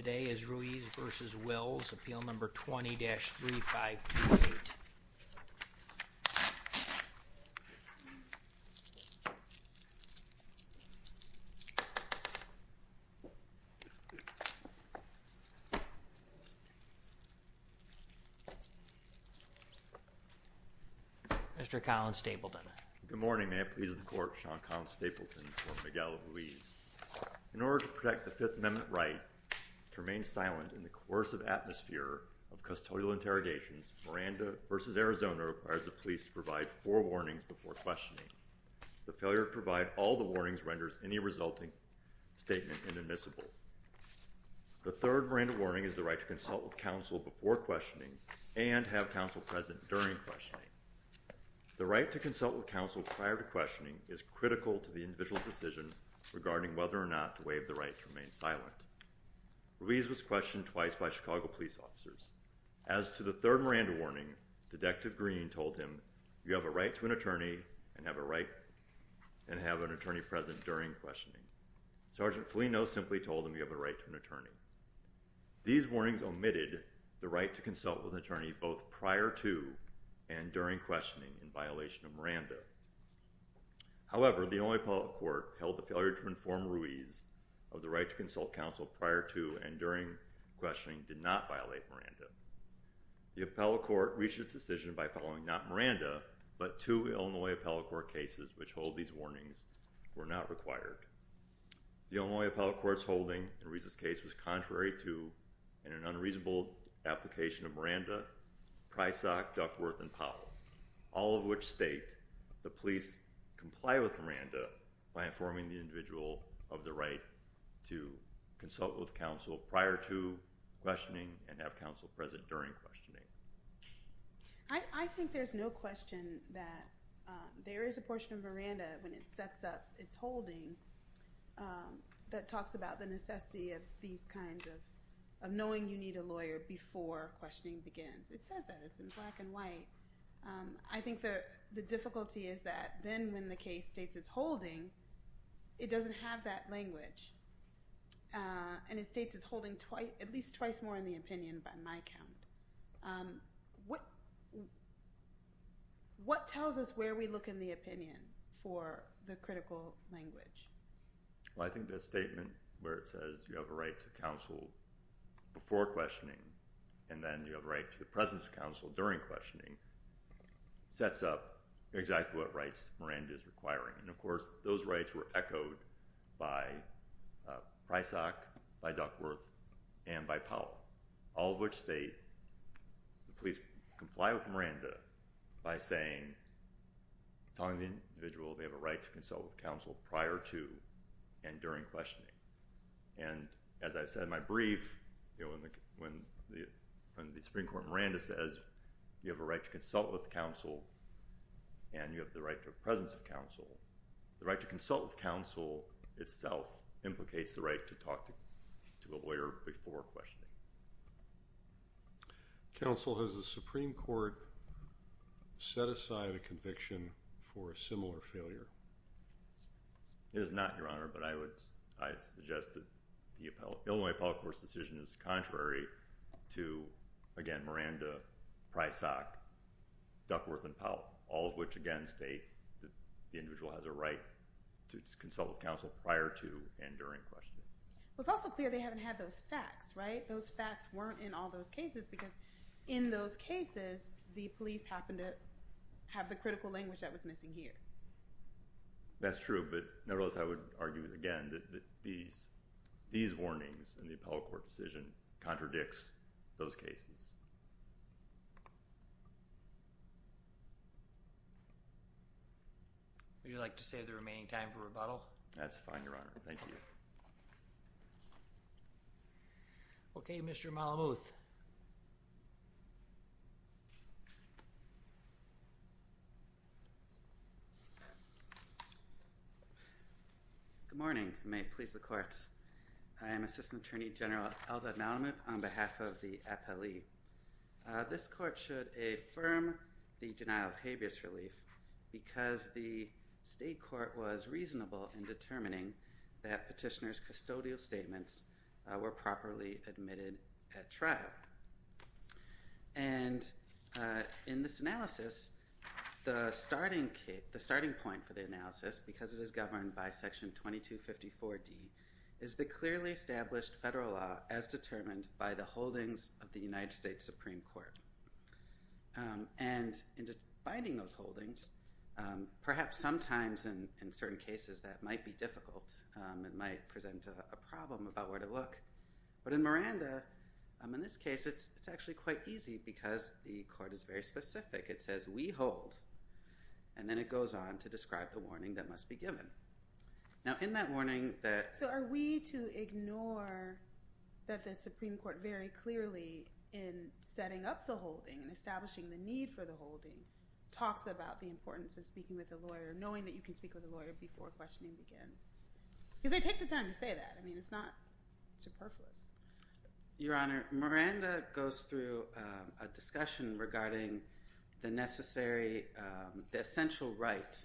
Today is Ruiz v. Wills, appeal number 20-3528. Mr. Colin Stapleton. Good morning. May it please the court, Sean Colin Stapleton for Miguel Ruiz. In order to protect the Fifth Amendment right to remain silent in the coercive atmosphere of custodial interrogations, Miranda v. Arizona requires the police to provide four warnings before questioning. The failure to provide all the warnings renders any resulting statement inadmissible. The third Miranda warning is the right to consult with counsel before questioning and have counsel present during questioning. The right to consult with counsel prior to questioning is critical to the individual's decision regarding whether or not to waive the right to remain silent. Ruiz was questioned twice by Chicago police officers. As to the third Miranda warning, Detective Green told him, you have a right to an attorney and have an attorney present during questioning. Sergeant Filino simply told him you have a right to an attorney. These warnings omitted the right to consult with an attorney both prior to and during questioning in violation of Miranda. However, the Illinois Appellate Court held the failure to inform Ruiz of the right to consult counsel prior to and during questioning did not violate Miranda. The Appellate Court reached its decision by following not Miranda, but two Illinois Appellate Court cases which hold these warnings were not required. The Illinois Appellate Court's holding in Ruiz's case was contrary to, in an unreasonable application of Miranda, Prysock, Duckworth, and Powell, all of which state the police comply with Miranda by informing the individual of the right to consult with counsel prior to questioning and have counsel present during questioning. I think there's no question that there is a portion of Miranda when it sets up its holding that talks about the necessity of these kinds of knowing you need a lawyer before questioning begins. It says that. It's in black and white. I think the difficulty is that then when the case states it's holding, it doesn't have that language and it states it's holding at least twice more in the opinion by my count. So, what tells us where we look in the opinion for the critical language? Well, I think the statement where it says you have a right to counsel before questioning and then you have a right to the presence of counsel during questioning sets up exactly what rights Miranda is requiring and, of course, those rights were echoed by Prysock, by Duckworth, and by Powell, all of which state the police comply with Miranda by saying, telling the individual they have a right to consult with counsel prior to and during questioning. And as I said in my brief, when the Supreme Court Miranda says you have a right to consult with counsel and you have the right to the presence of counsel, the right to consult with counsel itself implicates the right to talk to a lawyer before questioning. Counsel has the Supreme Court set aside a conviction for a similar failure? It is not, Your Honor, but I would suggest that the Illinois Appellate Court's decision is contrary to, again, Miranda, Prysock, Duckworth, and Powell, all of which again state that the individual has a right to consult with counsel prior to and during questioning. Well, it's also clear they haven't had those facts, right? Those facts weren't in all those cases because in those cases, the police happened to have the critical language that was missing here. That's true, but nevertheless, I would argue, again, that these warnings in the Appellate Court decision contradicts those cases. Would you like to save the remaining time for rebuttal? That's fine, Your Honor. Thank you. Okay, Mr. Malamuth. Good morning. May it please the courts. I am Assistant Attorney General Eldad Malamuth on behalf of the appellee. This court should affirm the denial of habeas relief because the state court was reasonable in determining that petitioner's custodial statements were properly admitted at trial. And in this analysis, the starting point for the analysis, because it is governed by Section 2254D, is the clearly established federal law as determined by the holdings of the United States Supreme Court. And in defining those holdings, perhaps sometimes in certain cases that might be difficult and might present a problem about where to look, but in Miranda, in this case, it's actually quite easy because the court is very specific. It says, we hold, and then it goes on to describe the warning that must be given. Now, in that warning that— So, are we to ignore that the Supreme Court very clearly in setting up the holding and establishing the need for the holding talks about the importance of speaking with a lawyer, knowing that you can speak with a lawyer before questioning begins? Because they take the time to say that. I mean, it's not superfluous. Your Honor, Miranda goes through a discussion regarding the necessary—the essential right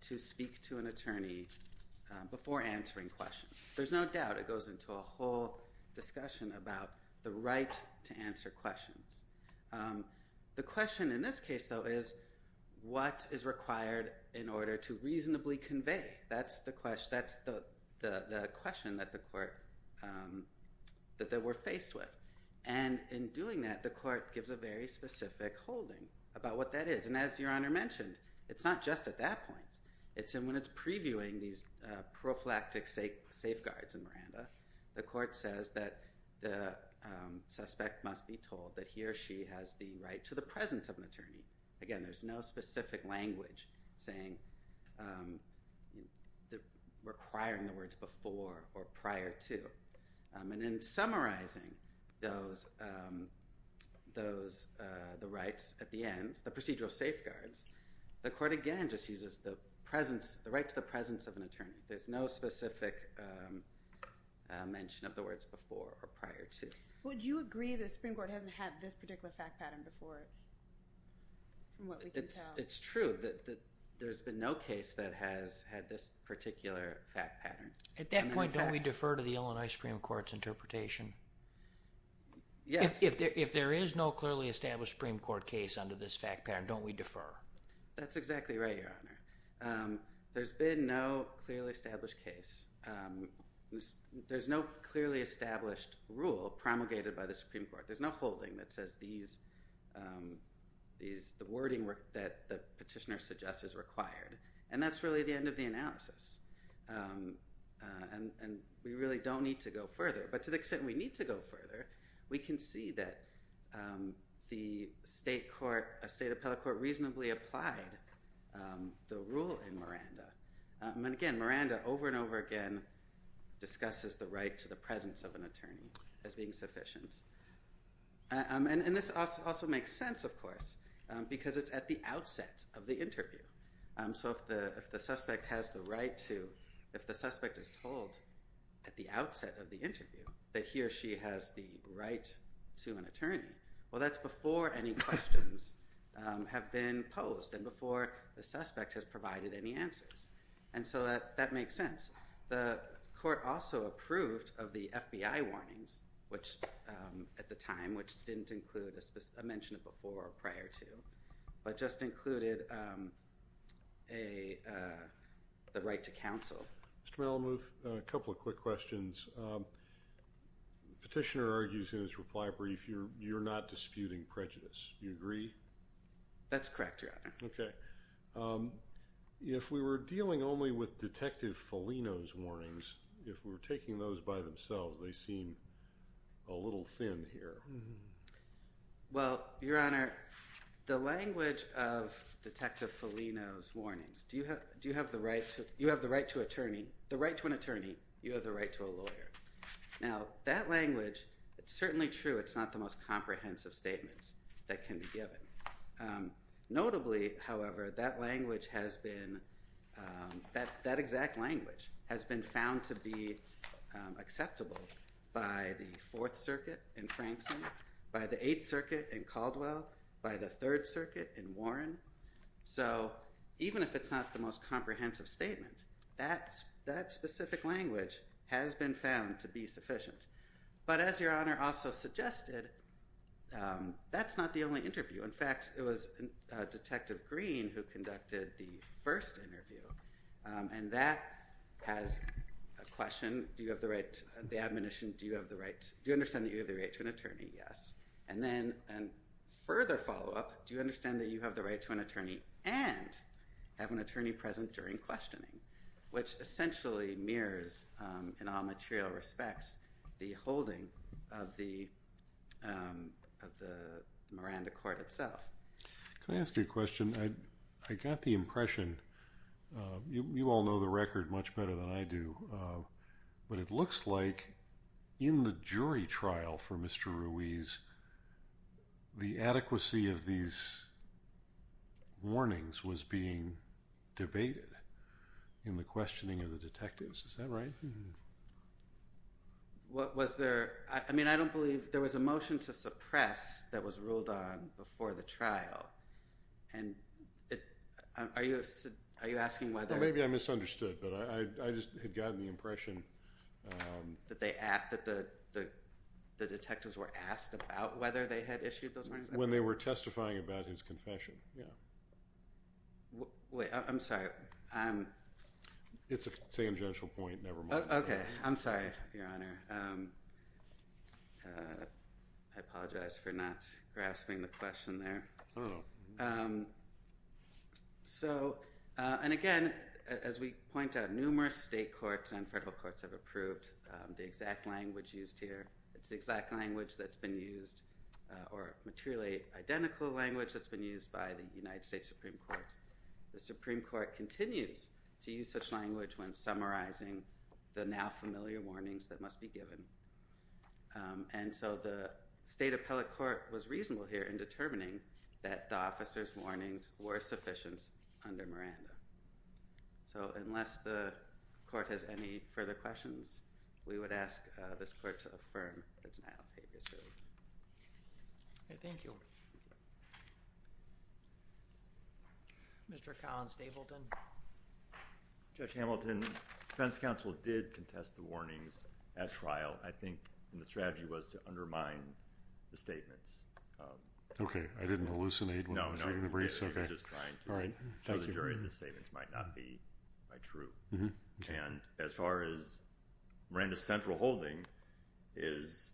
to speak to an attorney before answering questions. There's no doubt. It goes into a whole discussion about the right to answer questions. The question in this case, though, is what is required in order to reasonably convey? That's the question that the court—that we're faced with. And in doing that, the court gives a very specific holding about what that is. And as Your Honor mentioned, it's not just at that point. When it's previewing these prophylactic safeguards in Miranda, the court says that the suspect must be told that he or she has the right to the presence of an attorney. Again, there's no specific language saying—requiring the words before or prior to. And in summarizing those—the rights at the end, the procedural safeguards, the court again just uses the presence—the right to the presence of an attorney. There's no specific mention of the words before or prior to. Would you agree that the Supreme Court hasn't had this particular fact pattern before? From what we can tell. It's true that there's been no case that has had this particular fact pattern. At that point, don't we defer to the Illinois Supreme Court's interpretation? Yes. If there is no clearly established Supreme Court case under this fact pattern, don't we defer? That's exactly right, Your Honor. There's been no clearly established case. There's no clearly established rule promulgated by the Supreme Court. There's no holding that says these—the wording that the petitioner suggests is required. And that's really the end of the analysis. And we really don't need to go further. But to the extent we need to go further, we can see that the state court—a state appellate court reasonably applied the rule in Miranda. And again, Miranda over and over again discusses the right to the presence of an attorney as being sufficient. And this also makes sense, of course, because it's at the outset of the interview. So if the suspect has the right to—if the suspect is told at the outset of the interview that he or she has the right to an attorney, well, that's before any questions have been posed and before the suspect has provided any answers. And so that makes sense. The court also approved of the FBI warnings, which at the time, which didn't include— the right to counsel. Mr. Malamuth, a couple of quick questions. Petitioner argues in his reply brief you're not disputing prejudice. Do you agree? That's correct, Your Honor. If we were dealing only with Detective Foligno's warnings, if we were taking those by themselves, they seem a little thin here. Well, Your Honor, the language of Detective Foligno's warnings, do you have the right to—you have the right to an attorney, you have the right to a lawyer. Now, that language, it's certainly true it's not the most comprehensive statements that can be given. Notably, however, that language has been— by the Eighth Circuit in Caldwell, by the Third Circuit in Warren. So even if it's not the most comprehensive statement, that specific language has been found to be sufficient. But as Your Honor also suggested, that's not the only interview. In fact, it was Detective Green who conducted the first interview, and that has a question, do you have the right—the admonition, do you understand that you have the right to an attorney? Yes. And then, a further follow-up, do you understand that you have the right to an attorney and have an attorney present during questioning? Which essentially mirrors, in all material respects, the holding of the Miranda Court itself. Can I ask you a question? I got the impression—you all know the record much better than I do— but it looks like in the jury trial for Mr. Ruiz, the adequacy of these warnings was being debated in the questioning of the detectives. Is that right? Was there—I mean, I don't believe— there was a motion to suppress that was ruled on before the trial. Are you asking whether— Maybe I misunderstood, but I just had gotten the impression— That the detectives were asked about whether they had issued those warnings? When they were testifying about his confession, yeah. Wait, I'm sorry. It's a tangential point, never mind. Okay, I'm sorry, Your Honor. I apologize for not grasping the question there. Oh. So, and again, as we point out, numerous state courts and federal courts have approved the exact language used here. It's the exact language that's been used, or materially identical language that's been used by the United States Supreme Court. The Supreme Court continues to use such language when summarizing the now-familiar warnings that must be given. And so the state appellate court was reasonable here in determining that the officer's warnings were sufficient under Miranda. So unless the court has any further questions, we would ask this court to affirm the denial of papers ruling. Okay, thank you. Mr. Collins-Davidson? Judge Hamilton, defense counsel did contest the warnings at trial. I think the strategy was to undermine the statements. Okay, I didn't hallucinate when I was reading the briefs? No, no, you were just trying to show the jury that the statements might not be true. And as far as Miranda's central holding is,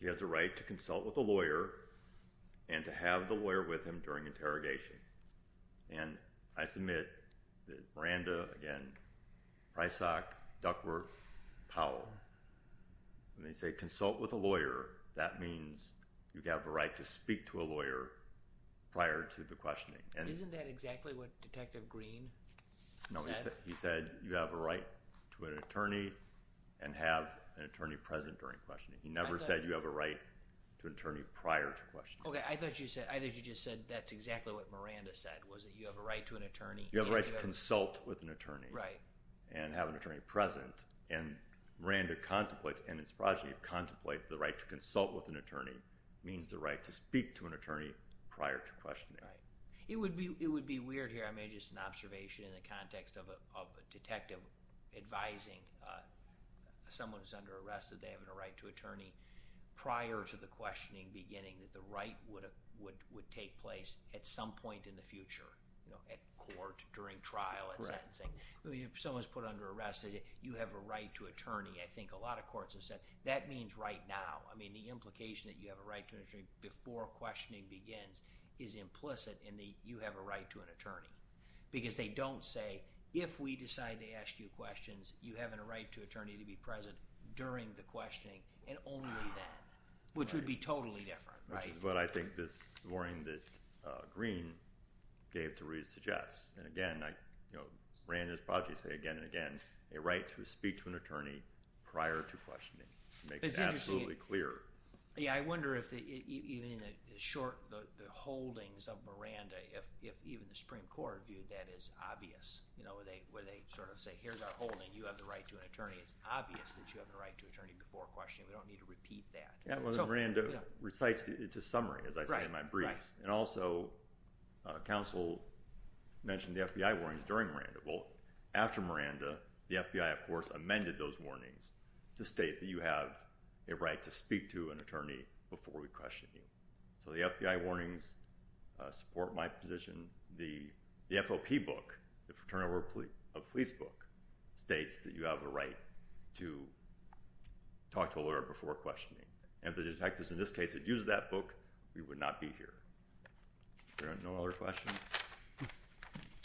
he has a right to consult with a lawyer and to have the lawyer with him during interrogation. And I submit that Miranda, again, Prysock, Duckworth, Powell, when they say consult with a lawyer, that means you have a right to speak to a lawyer prior to the questioning. Isn't that exactly what Detective Green said? No, he said you have a right to an attorney and have an attorney present during questioning. Okay, I thought you just said that's exactly what Miranda said, was that you have a right to an attorney. You have a right to consult with an attorney and have an attorney present. And Miranda contemplates, and his progeny contemplates, the right to consult with an attorney means the right to speak to an attorney prior to questioning. It would be weird here, I made just an observation in the context of a detective advising someone who's under arrest that they have a right to an attorney prior to the questioning beginning that the right would take place at some point in the future, at court, during trial, at sentencing. If someone's put under arrest, you have a right to attorney. I think a lot of courts have said that means right now. I mean, the implication that you have a right to an attorney before questioning begins is implicit in the you have a right to an attorney because they don't say if we decide to ask you questions, you have a right to an attorney to be present during the questioning and only then, which would be totally different. Which is what I think this warning that Greene gave to re-suggest. And again, Miranda's progeny say again and again, a right to speak to an attorney prior to questioning to make it absolutely clear. Yeah, I wonder if even in the short holdings of Miranda, if even the Supreme Court viewed that as obvious, where they sort of say here's our holding, you have the right to an attorney. It's obvious that you have a right to an attorney before questioning. We don't need to repeat that. Miranda recites, it's a summary, as I say in my briefs. And also, counsel mentioned the FBI warnings during Miranda. Well, after Miranda, the FBI, of course, amended those warnings to state that you have a right to speak to an attorney before we question you. So the FBI warnings support my position. The FOP book, the Fraternal Court of Police book, states that you have a right to talk to a lawyer before questioning. If the detectives in this case had used that book, we would not be here. Are there no other questions?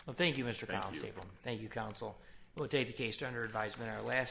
Well, thank you, Mr. Constable. Thank you. Thank you, counsel. We'll take the case to under advisement.